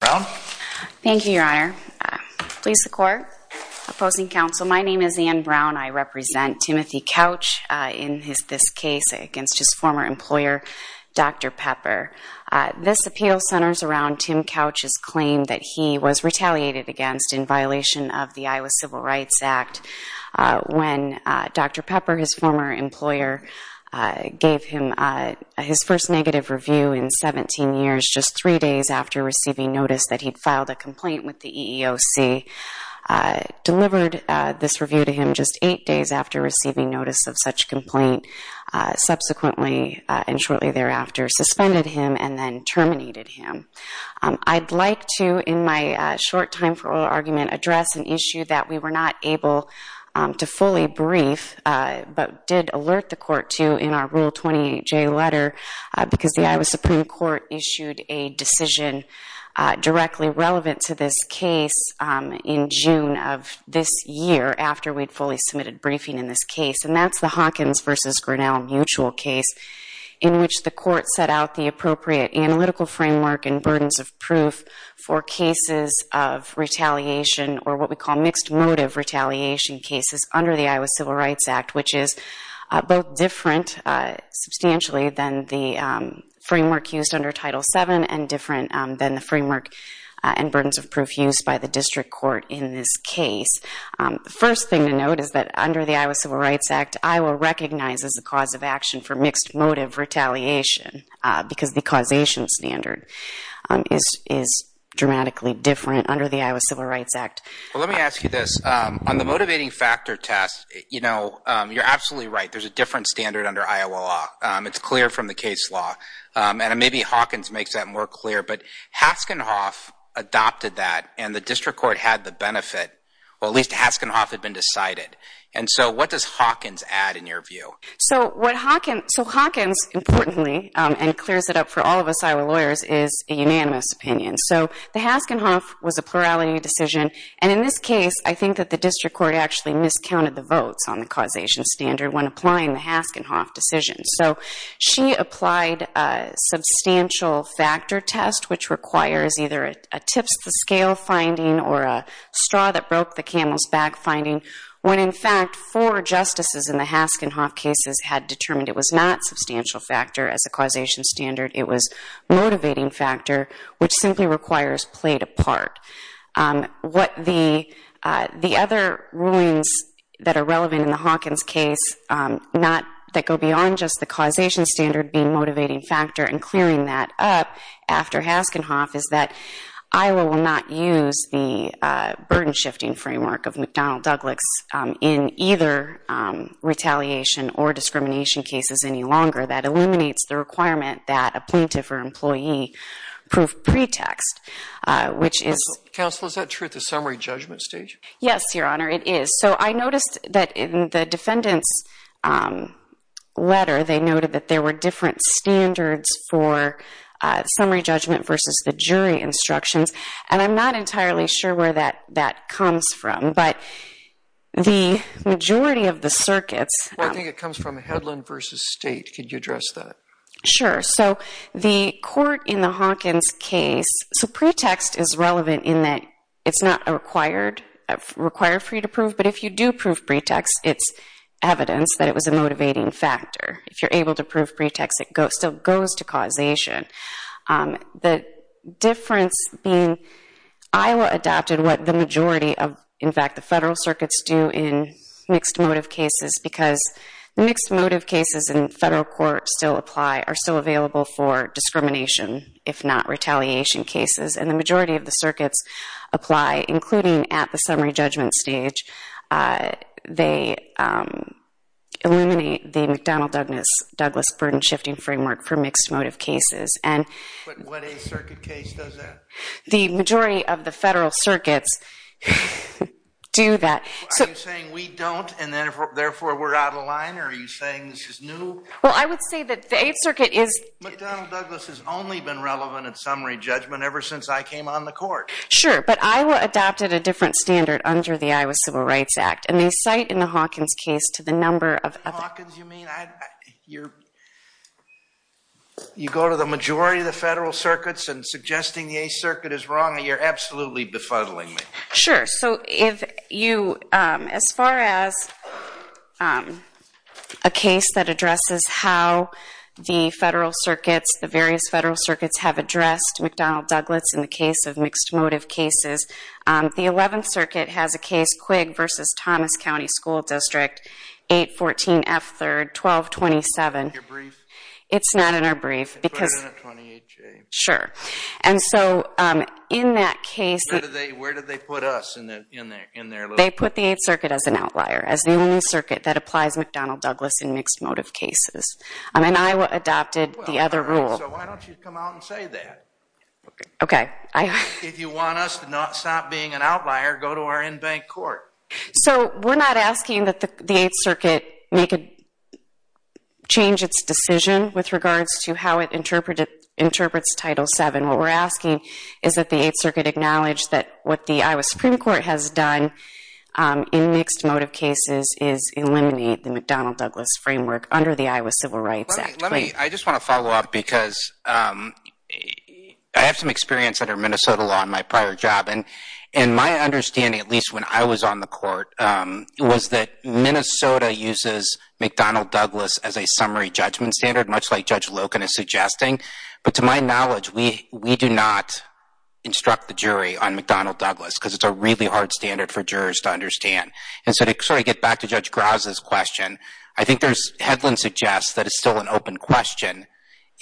Thank you, Your Honor. Please support. Opposing counsel, my name is Anne Brown. I represent Timothy Couch in this case against his former employer, Dr. Pepper. This appeal centers around Tim Couch's claim that he was retaliated against in violation of the Iowa Civil Rights Act when Dr. Pepper, his former employer, gave him his first negative review in 17 years just three days after receiving notice that he'd filed a complaint with the EEOC, delivered this review to him just eight days after receiving notice of such complaint, subsequently and shortly thereafter suspended him and then terminated him. I'd like to, in my short time for oral argument, address an issue that we were not able to fully brief but did alert the Court to in our Rule 28J letter because the Iowa Supreme Court issued a decision directly relevant to this case in June of this year after we'd fully submitted briefing in this case, and that's the Hawkins v. Grinnell mutual case in which the Court set out the appropriate analytical framework and burdens of proof for cases of retaliation or what we call mixed motive retaliation cases under the Iowa Civil Rights Act, which is both different substantially than the framework used under Title VII and different than the framework and burdens of proof used by the district court in this case. The first thing to note is that under the Iowa Civil Rights Act, Iowa recognizes the cause of action for mixed motive retaliation because the causation standard is dramatically different under the Iowa Civil Rights Act. Well, let me ask you this. On the motivating factor test, you know, you're absolutely right. There's a different standard under Iowa law. It's clear from the case law, and maybe Hawkins makes that more clear, but Haskenhoff adopted that and the district court had the benefit, or at least Haskenhoff had been decided, and so what does Hawkins add in your view? So Hawkins, importantly, and clears it up for all of us Iowa lawyers, is a unanimous opinion. So the Haskenhoff was a plurality decision, and in this case, I think that the district court actually miscounted the votes on the causation standard when applying the Haskenhoff decision. So she applied a substantial factor test, which requires either a tips-the-scale finding or a straw-that-broke-the-camel's-back finding, when, in fact, four justices in the Haskenhoff cases had determined it was not substantial factor as a causation standard. It was motivating factor, which simply requires plate apart. What the other rulings that are relevant in the Hawkins case that go beyond just the causation standard being motivating factor and clearing that up after Haskenhoff is that Iowa will not use the burden-shifting framework of McDonnell-Douglas in either retaliation or discrimination cases any longer. That eliminates the requirement that a plaintiff or employee prove pretext, which is- Counsel, is that true at the summary judgment stage? Yes, Your Honor, it is. So I noticed that in the defendant's letter, they noted that there were different standards for summary judgment versus the jury instructions, and I'm not entirely sure where that comes from, but the majority of the circuits- Well, I think it comes from headland versus state. Could you address that? Sure. So the court in the Hawkins case-so pretext is relevant in that it's not required for you to prove, but if you do prove pretext, it's evidence that it was a motivating factor. If you're able to prove pretext, it still goes to causation. The difference being Iowa adopted what the majority of, in fact, the federal circuits do in mixed motive cases because mixed motive cases in federal courts still apply, are still available for discrimination, if not retaliation cases, and the majority of the circuits apply, including at the summary judgment stage. They eliminate the McDonnell-Douglas burden-shifting framework for mixed motive cases, and- But what Eighth Circuit case does that? The majority of the federal circuits do that. Are you saying we don't, and therefore we're out of line, or are you saying this is new? Well, I would say that the Eighth Circuit is- McDonnell-Douglas has only been relevant at summary judgment ever since I came on the court. Sure, but Iowa adopted a different standard under the Iowa Civil Rights Act, and they cite in the Hawkins case to the number of- Hawkins, you mean? You go to the majority of the federal circuits and suggesting the Eighth Circuit is wrong, you're absolutely befuddling me. Sure, so if you, as far as a case that addresses how the federal circuits, the various federal circuits have addressed McDonnell-Douglas in the case of mixed motive cases, the Eleventh Circuit has a case, Quigg v. Thomas County School District, 814 F. 3rd, 1227. Your brief? It's not in our brief because- Put it in at 28J. Sure, and so in that case- Where did they put us in their little- They put the Eighth Circuit as an outlier, as the only circuit that applies McDonnell-Douglas in mixed motive cases, and Iowa adopted the other rule. Well, all right, so why don't you come out and say that? Okay, I- If you want us to not stop being an outlier, go to our in-bank court. So, we're not asking that the Eighth Circuit change its decision with regards to how it interprets Title VII. What we're asking is that the Eighth Circuit acknowledge that what the Iowa Supreme Court has done in mixed motive cases is eliminate the McDonnell-Douglas framework under the Iowa Civil Rights Act. I just want to follow up because I have some experience under Minnesota law in my prior job, and my understanding, at least when I was on the court, was that Minnesota uses McDonnell-Douglas as a summary judgment standard, much like Judge Loken is suggesting. But to my knowledge, we do not instruct the jury on McDonnell-Douglas because it's a really hard standard for jurors to understand. And so to sort of get back to Judge Grouse's question, I think there's- Hedlund suggests that it's still an open question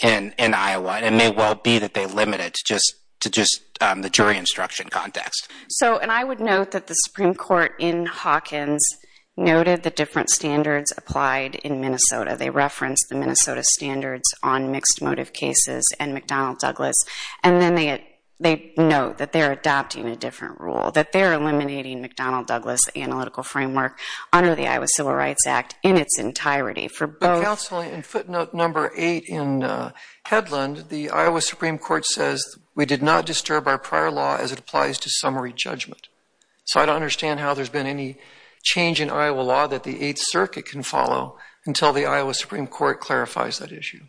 in Iowa, and it may well be that they limit it to just the jury instruction context. So, and I would note that the Supreme Court in Hawkins noted the different standards applied in Minnesota. They referenced the Minnesota standards on mixed motive cases and McDonnell-Douglas, and then they note that they're adopting a different rule, that they're eliminating McDonnell-Douglas analytical framework under the Iowa Civil Rights Act in its entirety for both- Counsel, in footnote number eight in Hedlund, the Iowa Supreme Court says, we did not disturb our prior law as it applies to summary judgment. So I don't understand how there's been any change in Iowa law that the Eighth Circuit can follow until the Iowa Supreme Court clarifies that issue.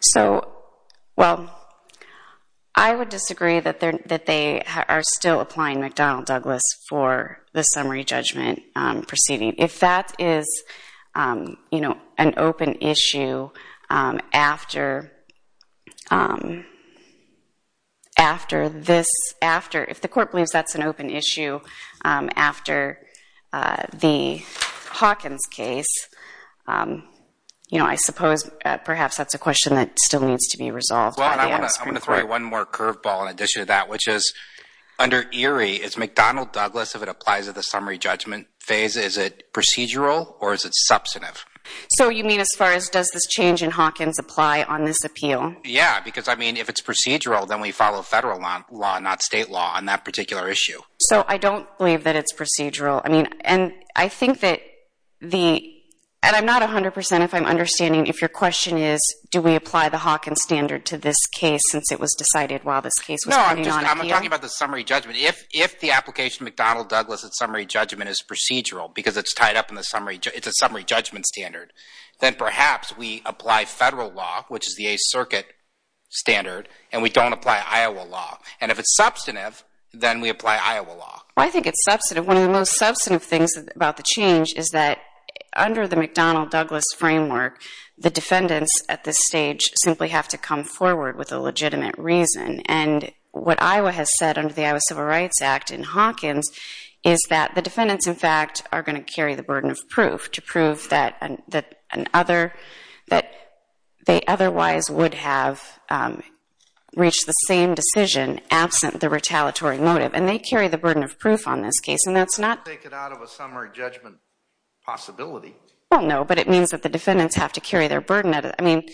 So, well, I would disagree that they are still applying McDonnell-Douglas for the summary judgment proceeding. If that is, you know, an open issue after this, if the court believes that's an open issue after the Hawkins case, you know, I suppose perhaps that's a question that still needs to be resolved by the Iowa Supreme Court. I just want to throw one more curveball in addition to that, which is under Erie, is McDonnell-Douglas, if it applies to the summary judgment phase, is it procedural or is it substantive? So you mean as far as does this change in Hawkins apply on this appeal? Yeah, because I mean, if it's procedural, then we follow federal law, not state law on that particular issue. So I don't believe that it's procedural. I mean, and I think that the, and I'm not 100% if I'm understanding if your question is do we apply the Hawkins standard to this case since it was decided while this case was putting on appeal? No, I'm just, I'm talking about the summary judgment. If the application of McDonnell-Douglas at summary judgment is procedural because it's tied up in the summary, it's a summary judgment standard, then perhaps we apply federal law, which is the Eighth Circuit standard, and we don't apply Iowa law. And if it's substantive, then we apply Iowa law. Well, I think it's substantive. One of the most substantive things about the change is that under the McDonnell-Douglas framework, the defendants at this stage simply have to come forward with a legitimate reason. And what Iowa has said under the Iowa Civil Rights Act in Hawkins is that the defendants, in fact, are going to carry the burden of proof to prove that an other, that they otherwise would have reached the same decision absent the retaliatory motive. And they carry the burden of proof on this case. And that's not… Take it out of a summary judgment possibility. Well, no, but it means that the defendants have to carry their burden. I mean,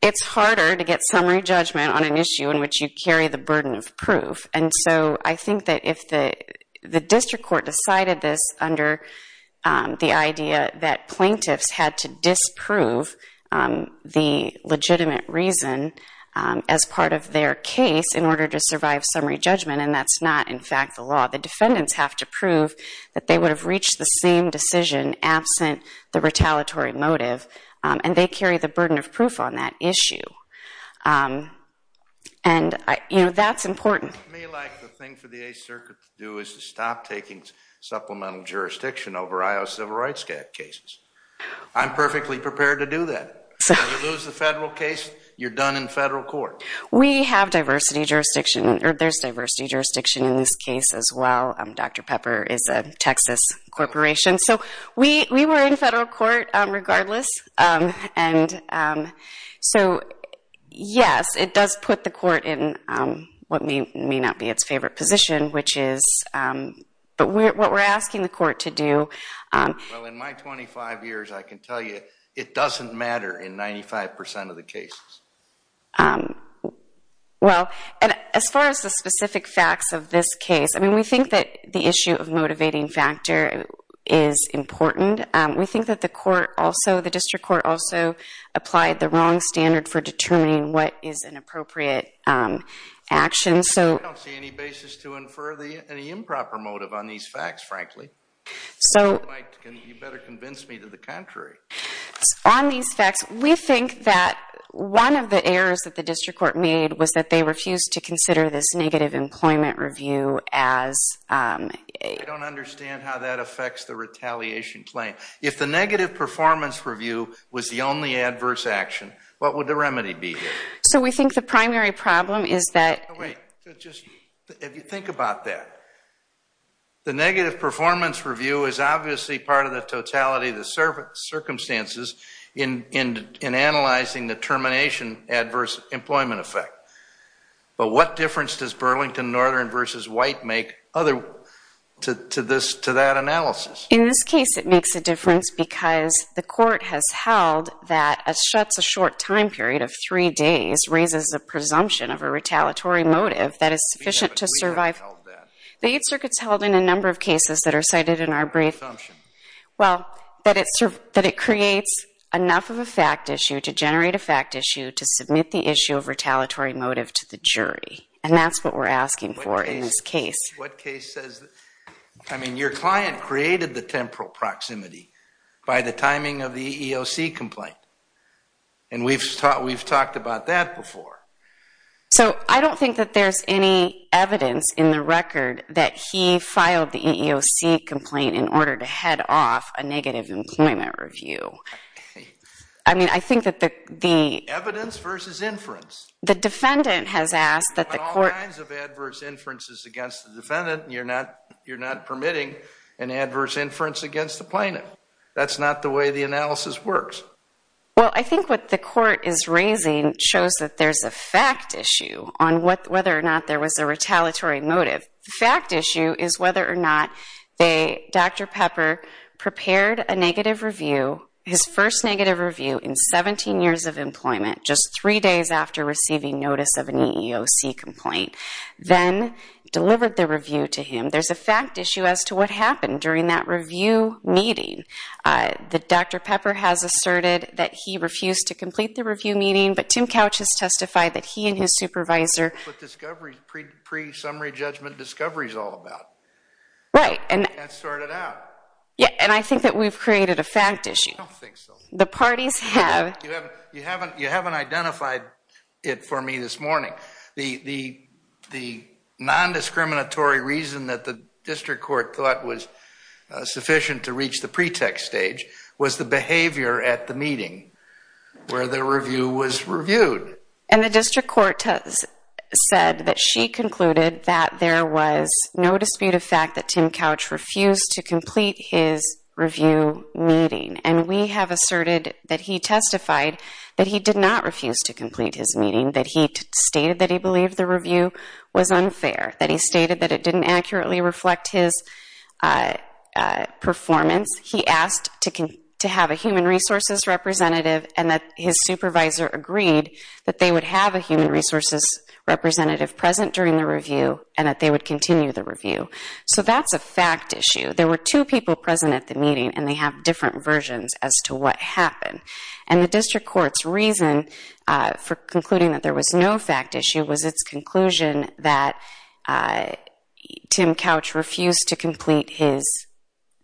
it's harder to get summary judgment on an issue in which you carry the burden of proof. And so I think that if the district court decided this under the idea that plaintiffs had to disprove the legitimate reason as part of their case in order to survive summary judgment, and that's not, in fact, the law, the defendants have to prove that they would have reached the same decision absent the retaliatory motive. And they carry the burden of proof on that issue. And, you know, that's important. It's to me like the thing for the Eighth Circuit to do is to stop taking supplemental jurisdiction over Iowa Civil Rights cases. I'm perfectly prepared to do that. If you lose the federal case, you're done in federal court. We have diversity jurisdiction. There's diversity jurisdiction in this case as well. Dr. Pepper is a Texas corporation. So we were in federal court regardless. And so, yes, it does put the court in what may not be its favorite position, which is what we're asking the court to do. Well, in my 25 years, I can tell you it doesn't matter in 95% of the cases. Well, as far as the specific facts of this case, I mean, we think that the issue of motivating factor is important. We think that the court also, the district court also applied the wrong standard for determining what is an appropriate action. I don't see any basis to infer any improper motive on these facts, frankly. On these facts, we think that one of the errors that the district court made was that they refused to consider this negative employment review as a- I don't understand how that affects the retaliation claim. If the negative performance review was the only adverse action, what would the remedy be here? So we think the primary problem is that- If you think about that, the negative performance review is obviously part of the totality of the circumstances in analyzing the termination adverse employment effect. But what difference does Burlington Northern v. White make to that analysis? In this case, it makes a difference because the court has held that a short time period of three days raises a presumption of a retaliatory motive that is sufficient to survive- We haven't held that. The Eighth Circuit's held in a number of cases that are cited in our brief- Presumption. Well, that it creates enough of a fact issue to generate a fact issue to submit the issue of retaliatory motive to the jury. And that's what we're asking for in this case. I mean, your client created the temporal proximity by the timing of the EEOC complaint. And we've talked about that before. So I don't think that there's any evidence in the record that he filed the EEOC complaint in order to head off a negative employment review. I mean, I think that the- Evidence versus inference. The defendant has asked that the court- There are all kinds of adverse inferences against the defendant. You're not permitting an adverse inference against the plaintiff. That's not the way the analysis works. Well, I think what the court is raising shows that there's a fact issue on whether or not there was a retaliatory motive. The fact issue is whether or not Dr. Pepper prepared a negative review, his first negative review, in 17 years of employment, just three days after receiving notice of an EEOC complaint, then delivered the review to him. There's a fact issue as to what happened during that review meeting. Dr. Pepper has asserted that he refused to complete the review meeting, but Tim Couch has testified that he and his supervisor- That's what pre-summary judgment discovery is all about. Right. That started out. Yeah, and I think that we've created a fact issue. I don't think so. The parties have- You haven't identified it for me this morning. The non-discriminatory reason that the district court thought was sufficient to reach the pretext stage was the behavior at the meeting where the review was reviewed. The district court has said that she concluded that there was no dispute of fact that Tim Couch refused to complete his review meeting. We have asserted that he testified that he did not refuse to complete his meeting, that he stated that he believed the review was unfair, that he stated that it didn't accurately reflect his performance. He asked to have a human resources representative and that his supervisor agreed that they would have a human resources representative present during the review and that they would continue the review. So that's a fact issue. There were two people present at the meeting, and they have different versions as to what happened. And the district court's reason for concluding that there was no fact issue was its conclusion that Tim Couch refused to complete his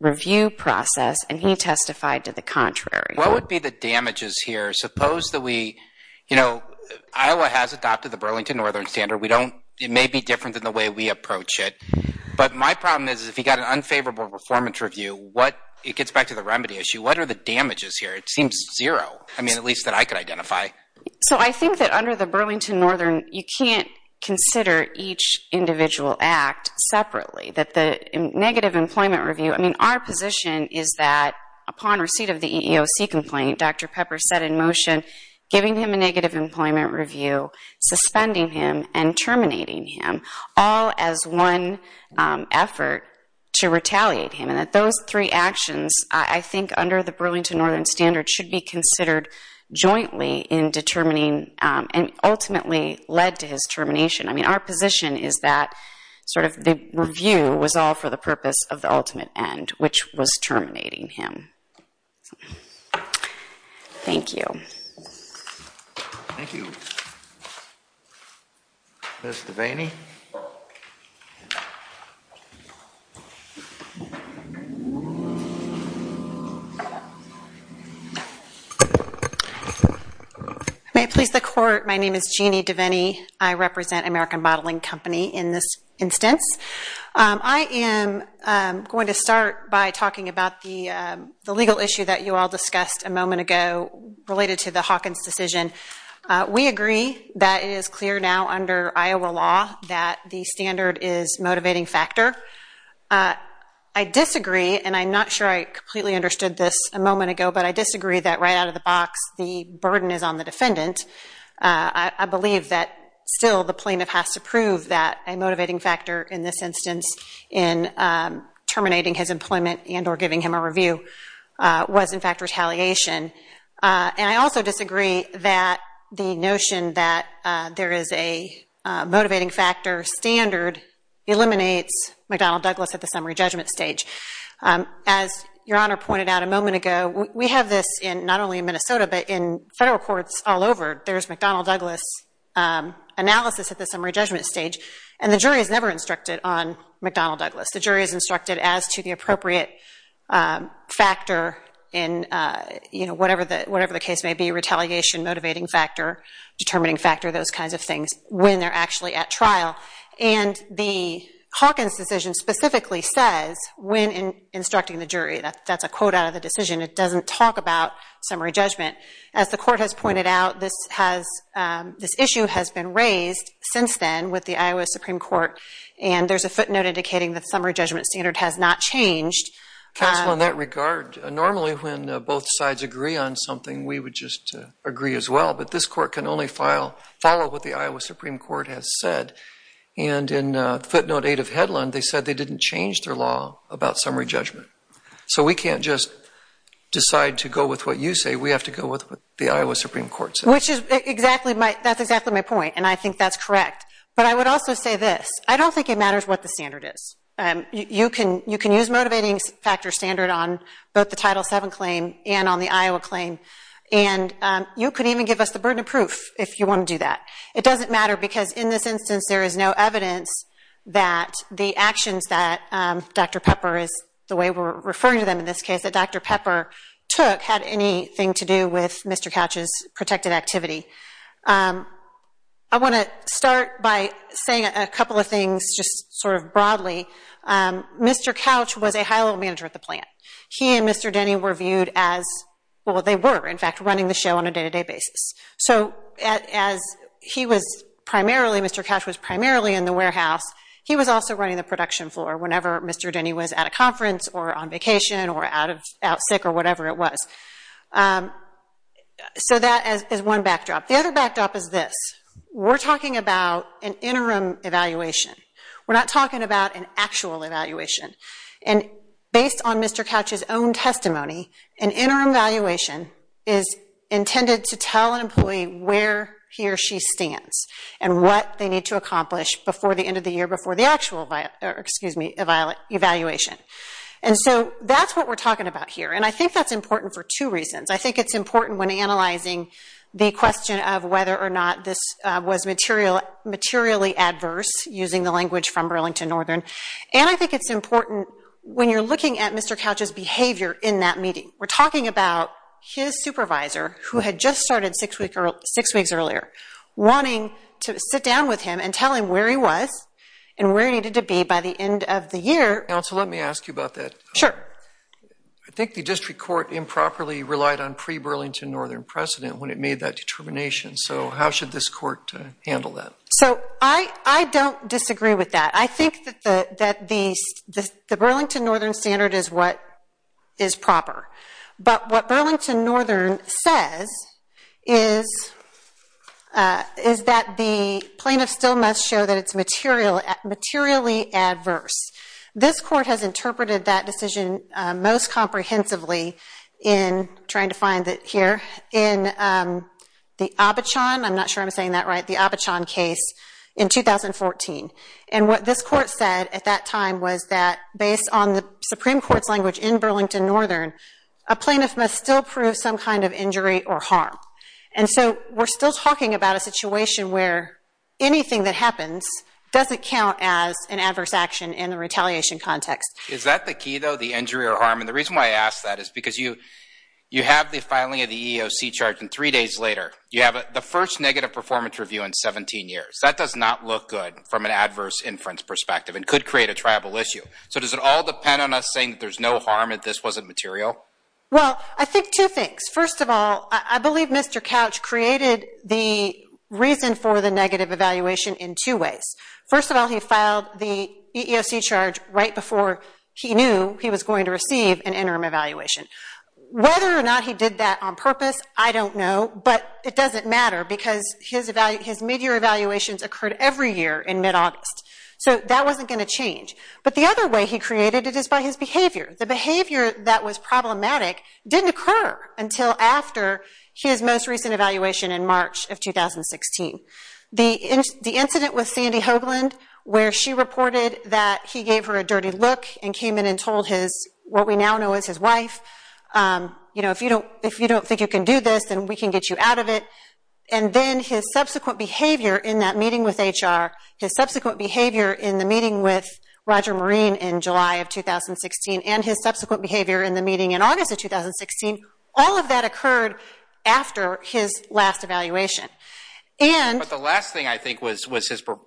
review process, and he testified to the contrary. What would be the damages here? Suppose that we- You know, Iowa has adopted the Burlington Northern Standard. We don't- It may be different than the way we approach it, but my problem is if you've got an unfavorable performance review, what- It gets back to the remedy issue. What are the damages here? It seems zero. I mean, at least that I could identify. So I think that under the Burlington Northern, you can't consider each individual act separately, that the negative employment review- I mean, our position is that upon receipt of the EEOC complaint, Dr. Pepper set in motion giving him a negative employment review, suspending him, and terminating him, all as one effort to retaliate him. And that those three actions, I think under the Burlington Northern Standard, should be considered jointly in determining and ultimately led to his termination. I mean, our position is that sort of the review was all for the purpose of the ultimate end, which was terminating him. Thank you. Thank you. Ms. Devaney? May it please the court, my name is Jeannie Devaney. I represent American Bottling Company in this instance. I am going to start by talking about the legal issue that you all discussed a moment ago related to the Hawkins decision. We agree that it is clear now under Iowa law that the standard is a motivating factor. I disagree, and I'm not sure I completely understood this a moment ago, but I disagree that right out of the box the burden is on the defendant. I believe that still the plaintiff has to prove that a motivating factor in this instance in terminating his employment and or giving him a review was in fact retaliation. And I also disagree that the notion that there is a motivating factor standard eliminates McDonnell Douglas at the summary judgment stage. As Your Honor pointed out a moment ago, we have this not only in Minnesota, but in federal courts all over. There's McDonnell Douglas analysis at the summary judgment stage, and the jury is never instructed on McDonnell Douglas. The jury is instructed as to the appropriate factor in whatever the case may be, retaliation, motivating factor, determining factor, those kinds of things, when they're actually at trial. And the Hawkins decision specifically says when instructing the jury, that's a quote out of the decision. It doesn't talk about summary judgment. As the court has pointed out, this issue has been raised since then with the Iowa Supreme Court. And there's a footnote indicating that the summary judgment standard has not changed. Counsel, in that regard, normally when both sides agree on something, we would just agree as well. But this court can only follow what the Iowa Supreme Court has said. And in footnote 8 of Hedlund, they said they didn't change their law about summary judgment. So we can't just decide to go with what you say. We have to go with what the Iowa Supreme Court says. That's exactly my point, and I think that's correct. But I would also say this. I don't think it matters what the standard is. You can use motivating factor standard on both the Title VII claim and on the Iowa claim. And you could even give us the burden of proof if you want to do that. It doesn't matter because in this instance, there is no evidence that the actions that Dr. Pepper, is the way we're referring to them in this case, that Dr. Pepper took had anything to do with Mr. Couch's protected activity. I want to start by saying a couple of things just sort of broadly. Mr. Couch was a high-level manager at the plant. He and Mr. Denny were viewed as, well, they were, in fact, running the show on a day-to-day basis. So as he was primarily, Mr. Couch was primarily in the warehouse, he was also running the production floor whenever Mr. Denny was at a conference or on vacation or out sick or whatever it was. So that is one backdrop. The other backdrop is this. We're talking about an interim evaluation. We're not talking about an actual evaluation. And based on Mr. Couch's own testimony, an interim evaluation is intended to tell an employee where he or she stands and what they need to accomplish before the end of the year before the actual evaluation. And so that's what we're talking about here. And I think that's important for two reasons. I think it's important when analyzing the question of whether or not this was materially adverse using the language from Burlington Northern. And I think it's important when you're looking at Mr. Couch's behavior in that meeting. We're talking about his supervisor who had just started six weeks earlier wanting to sit down with him and tell him where he was and where he needed to be by the end of the year. Counsel, let me ask you about that. Sure. I think the district court improperly relied on pre-Burlington Northern precedent when it made that determination. So how should this court handle that? So I don't disagree with that. I think that the Burlington Northern standard is what is proper. But what Burlington Northern says is that the plaintiff still must show that it's materially adverse. This court has interpreted that decision most comprehensively in trying to find it here in the Abachan. I'm not sure I'm saying that right. The Abachan case in 2014. And what this court said at that time was that based on the Supreme Court's language in Burlington Northern, a plaintiff must still prove some kind of injury or harm. And so we're still talking about a situation where anything that happens doesn't count as an adverse action in the retaliation context. Is that the key, though, the injury or harm? And the reason why I ask that is because you have the filing of the EEOC charge and three days later, you have the first negative performance review in 17 years. That does not look good from an adverse inference perspective and could create a tribal issue. So does it all depend on us saying there's no harm if this wasn't material? Well, I think two things. First of all, I believe Mr. Couch created the reason for the negative evaluation in two ways. First of all, he filed the EEOC charge right before he knew he was going to receive an interim evaluation. Whether or not he did that on purpose, I don't know. But it doesn't matter because his midyear evaluations occurred every year in mid-August. So that wasn't going to change. The behavior that was problematic didn't occur until after his most recent evaluation in March of 2016. The incident with Sandy Hoagland where she reported that he gave her a dirty look and came in and told what we now know as his wife, if you don't think you can do this, then we can get you out of it. And then his subsequent behavior in that meeting with HR, his subsequent behavior in the meeting with Roger Marine in July of 2016, and his subsequent behavior in the meeting in August of 2016, all of that occurred after his last evaluation. But the last thing I think was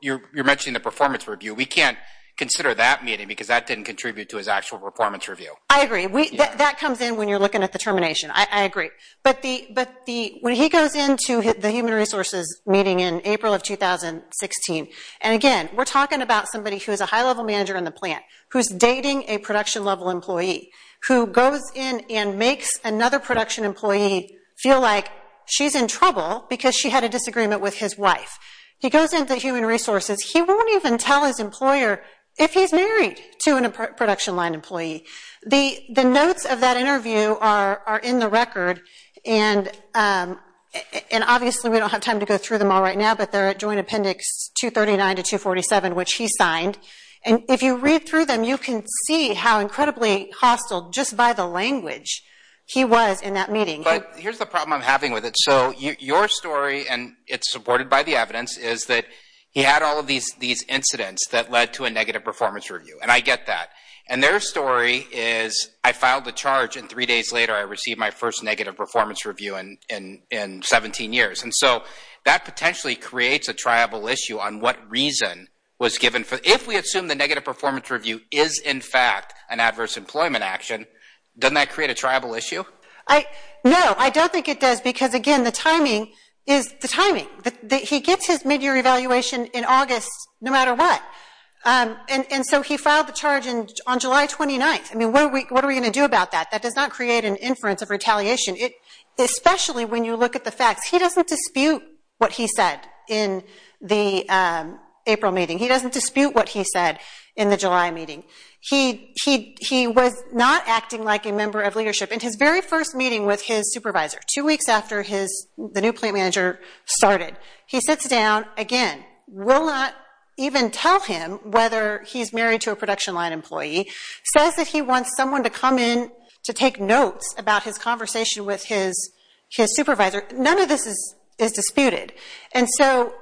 you're mentioning the performance review. We can't consider that meeting because that didn't contribute to his actual performance review. I agree. That comes in when you're looking at the termination. I agree. But when he goes into the Human Resources meeting in April of 2016, and again, we're talking about somebody who is a high-level manager in the plant, who's dating a production-level employee, who goes in and makes another production employee feel like she's in trouble because she had a disagreement with his wife. He goes into Human Resources. He won't even tell his employer if he's married to a production-line employee. The notes of that interview are in the record, and obviously we don't have time to go through them all right now, but they're at Joint Appendix 239 to 247, which he signed. And if you read through them, you can see how incredibly hostile, just by the language, he was in that meeting. But here's the problem I'm having with it. So your story, and it's supported by the evidence, is that he had all of these incidents that led to a negative performance review. And I get that. And their story is, I filed the charge, and three days later, I received my first negative performance review in 17 years. And so that potentially creates a triable issue on what reason was given. If we assume the negative performance review is, in fact, an adverse employment action, doesn't that create a triable issue? No, I don't think it does because, again, the timing is the timing. He gets his midyear evaluation in August, no matter what. And so he filed the charge on July 29th. I mean, what are we going to do about that? That does not create an inference of retaliation, especially when you look at the facts. He doesn't dispute what he said in the April meeting. He doesn't dispute what he said in the July meeting. He was not acting like a member of leadership. In his very first meeting with his supervisor, two weeks after the new plant manager started, he sits down, again, will not even tell him whether he's married to a production line employee, says that he wants someone to come in to take notes about his conversation with his supervisor. None of this is disputed. And so,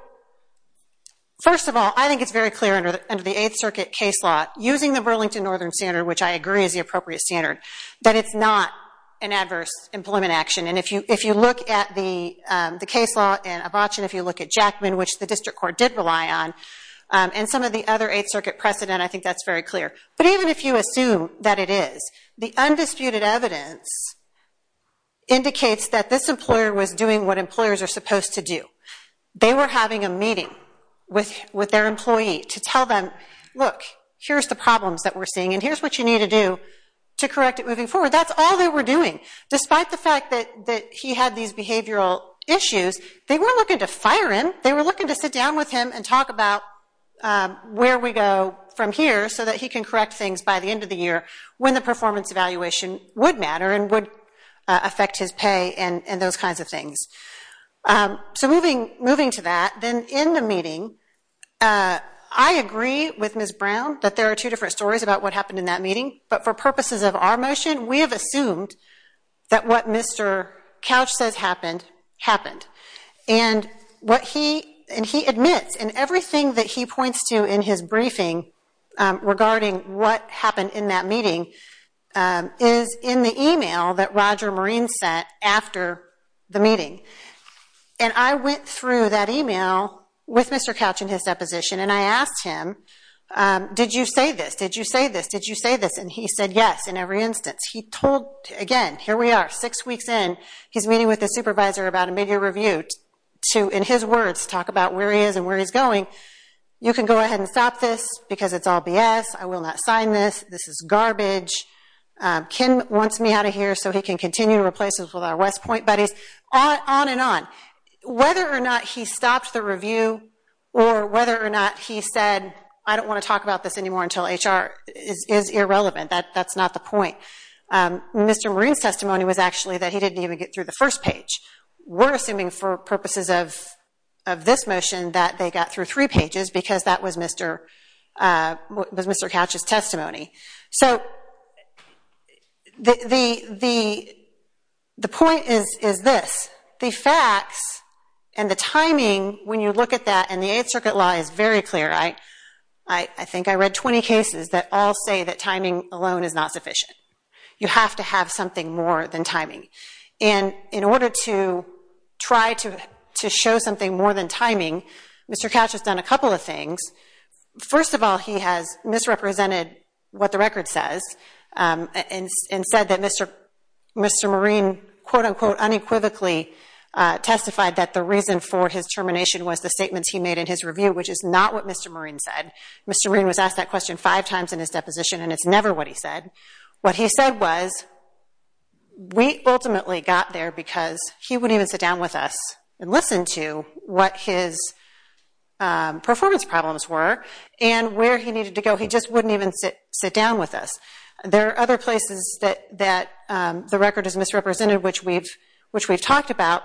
first of all, I think it's very clear under the Eighth Circuit case law, using the Burlington Northern Standard, which I agree is the appropriate standard, that it's not an adverse employment action. And if you look at the case law in Avacin, if you look at Jackman, which the district court did rely on, and some of the other Eighth Circuit precedent, I think that's very clear. But even if you assume that it is, the undisputed evidence indicates that this employer was doing what employers are supposed to do. They were having a meeting with their employee to tell them, look, here's the problems that we're seeing, and here's what you need to do to correct it moving forward. That's all they were doing. Despite the fact that he had these behavioral issues, they weren't looking to fire him. They were looking to sit down with him and talk about where we go from here so that he can correct things by the end of the year when the performance evaluation would matter and would affect his pay and those kinds of things. So moving to that, then in the meeting, I agree with Ms. Brown that there are two different stories about what happened in that meeting. But for purposes of our motion, we have assumed that what Mr. Couch says happened, happened. And what he admits, and everything that he points to in his briefing regarding what happened in that meeting, is in the e-mail that Roger Marine sent after the meeting. And I went through that e-mail with Mr. Couch in his deposition, and I asked him, did you say this? And he said yes in every instance. He told, again, here we are, six weeks in, he's meeting with the supervisor about a mid-year review to, in his words, talk about where he is and where he's going. You can go ahead and stop this because it's all BS. I will not sign this. This is garbage. Ken wants me out of here so he can continue to replace us with our West Point buddies, on and on. Whether or not he stopped the review or whether or not he said I don't want to talk about this anymore until HR is irrelevant, that's not the point. Mr. Marine's testimony was actually that he didn't even get through the first page. We're assuming for purposes of this motion that they got through three pages because that was Mr. Couch's testimony. So the point is this. The facts and the timing, when you look at that, and the Eighth Circuit law is very clear. I think I read 20 cases that all say that timing alone is not sufficient. You have to have something more than timing. And in order to try to show something more than timing, Mr. Couch has done a couple of things. First of all, he has misrepresented what the record says and said that Mr. Marine quote, unquote, unequivocally testified that the reason for his termination was the statements he made in his review, which is not what Mr. Marine said. Mr. Marine was asked that question five times in his deposition, and it's never what he said. What he said was we ultimately got there because he wouldn't even sit down with us and listen to what his performance problems were and where he needed to go. He just wouldn't even sit down with us. There are other places that the record is misrepresented, which we've talked about.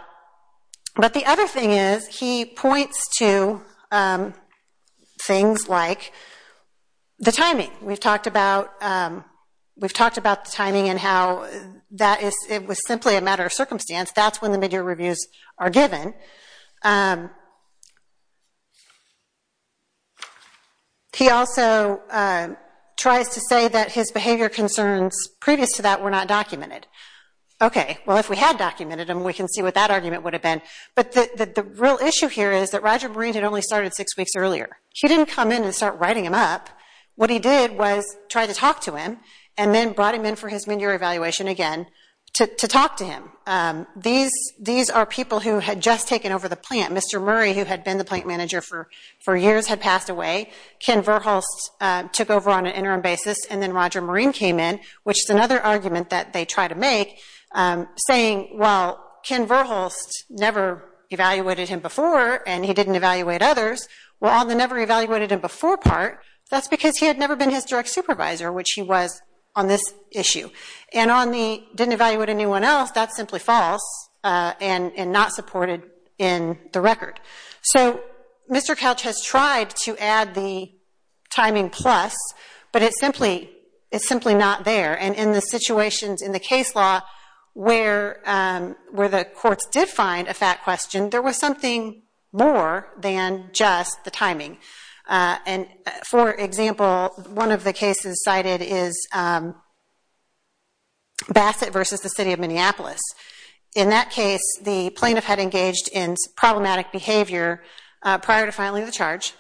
But the other thing is he points to things like the timing. We've talked about the timing and how it was simply a matter of circumstance. That's when the midyear reviews are given. He also tries to say that his behavior concerns previous to that were not documented. Okay, well, if we had documented them, we can see what that argument would have been. But the real issue here is that Roger Marine had only started six weeks earlier. He didn't come in and start writing them up. What he did was try to talk to him and then brought him in for his midyear evaluation again to talk to him. These are people who had just taken over the plant. Mr. Murray, who had been the plant manager for years, had passed away. Ken Verhulst took over on an interim basis, and then Roger Marine came in, which is another argument that they try to make, saying, well, Ken Verhulst never evaluated him before and he didn't evaluate others. Well, on the never evaluated him before part, that's because he had never been his direct supervisor, which he was on this issue. And on the didn't evaluate anyone else, that's simply false and not supported in the record. So Mr. Couch has tried to add the timing plus, but it's simply not there. And in the situations in the case law where the courts did find a fact question, there was something more than just the timing. And for example, one of the cases cited is Bassett versus the city of Minneapolis. In that case, the plaintiff had engaged in problematic behavior prior to filing the charge,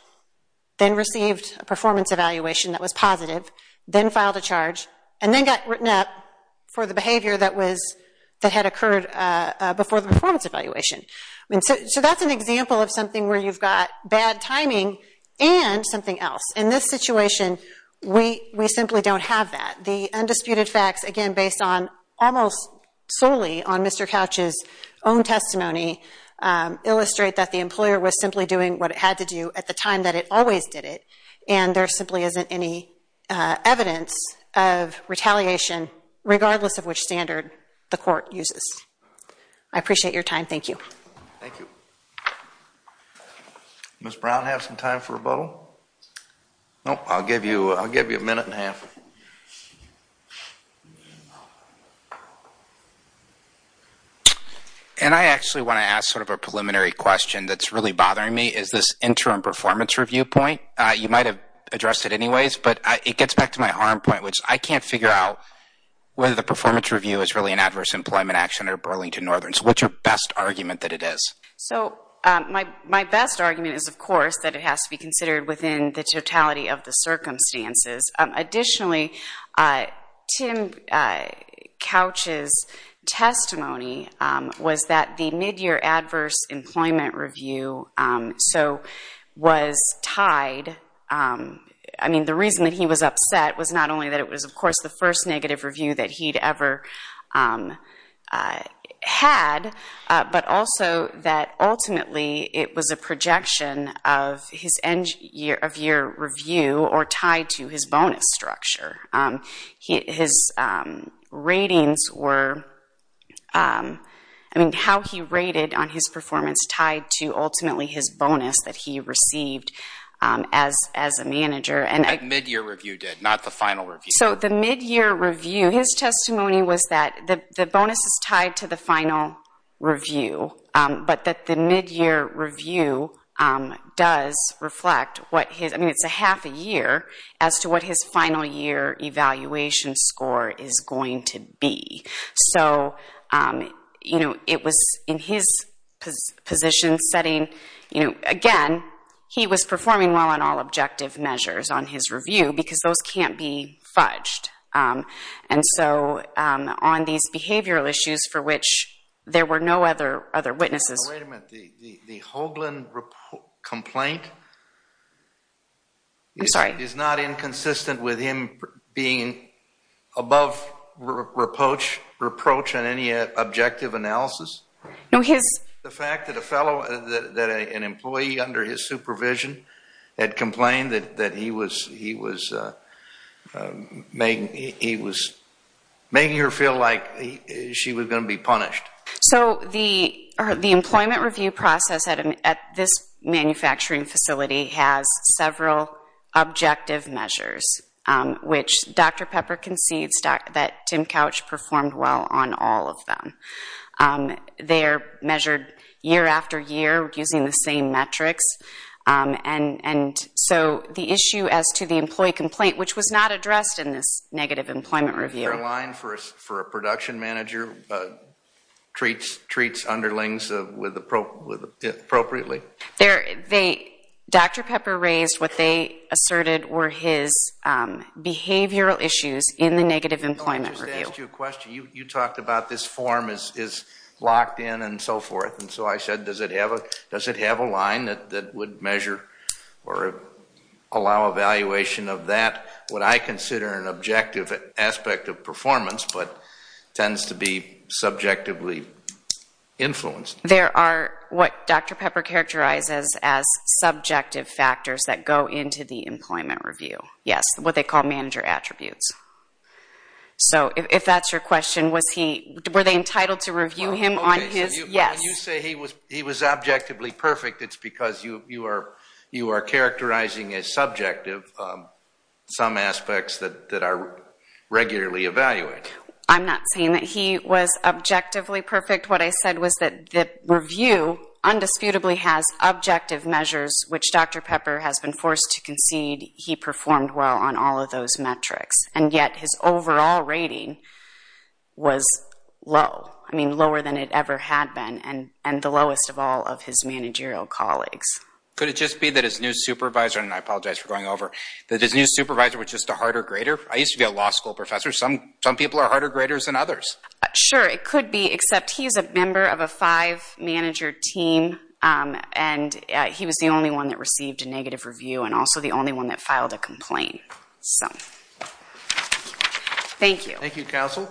then received a performance evaluation that was positive, then filed a charge, and then got written up for the behavior that had occurred before the performance evaluation. So that's an example of something where you've got bad timing and something else. In this situation, we simply don't have that. The undisputed facts, again, based on almost solely on Mr. Couch's own testimony, illustrate that the employer was simply doing what it had to do at the time that it always did it. And there simply isn't any evidence of retaliation, regardless of which standard the court uses. I appreciate your time. Thank you. Thank you. Ms. Brown, have some time for rebuttal? And I actually want to ask sort of a preliminary question that's really bothering me. Is this interim performance review point? You might have addressed it anyways, but it gets back to my arm point, which I can't figure out whether the performance review is really an adverse employment action or Burlington Northern. So what's your best argument that it is? So my best argument is, of course, that it has to be considered within the totality of the circumstances. Additionally, Tim Couch's testimony was that the midyear adverse employment review was tied. I mean, the reason that he was upset was not only that it was, of course, the first negative review that he'd ever had, but also that ultimately it was a projection of his end-of-year review or tied to his bonus structure. His ratings were, I mean, how he rated on his performance tied to ultimately his bonus that he received as a manager. That midyear review did, not the final review. So the midyear review, his testimony was that the bonus is tied to the final review, but that the midyear review does reflect what his, I mean, it's a half a year, as to what his final year evaluation score is going to be. So, you know, it was in his position setting, you know, again, he was performing well on all objective measures on his review because those can't be fudged. And so on these behavioral issues for which there were no other witnesses. Oh, wait a minute. The Hoagland complaint is not inconsistent with him being above reproach on any objective analysis? No, his. The fact that a fellow, that an employee under his supervision had complained that he was making her feel like she was going to be punished. So the employment review process at this manufacturing facility has several objective measures, which Dr. Pepper concedes that Tim Couch performed well on all of them. They're measured year after year using the same metrics. And so the issue as to the employee complaint, which was not addressed in this negative employment review. Is there a line for a production manager treats underlings appropriately? Dr. Pepper raised what they asserted were his behavioral issues in the negative employment review. I just asked you a question. You talked about this form is locked in and so forth. And so I said, does it have a line that would measure or allow evaluation of that? What I consider an objective aspect of performance, but tends to be subjectively influenced. There are what Dr. Pepper characterizes as subjective factors that go into the employment review. Yes, what they call manager attributes. So if that's your question, were they entitled to review him on his? Yes. You say he was objectively perfect. It's because you are characterizing as subjective some aspects that are regularly evaluated. I'm not saying that he was objectively perfect. What I said was that the review undisputably has objective measures, which Dr. Pepper has been forced to concede he performed well on all of those metrics. And yet his overall rating was low. I mean, lower than it ever had been. And the lowest of all of his managerial colleagues. Could it just be that his new supervisor, and I apologize for going over, that his new supervisor was just a harder grader? I used to be a law school professor. Some people are harder graders than others. Sure, it could be. Except he's a member of a five-manager team, and he was the only one that received a negative review, and also the only one that filed a complaint. So, thank you. Thank you, counsel.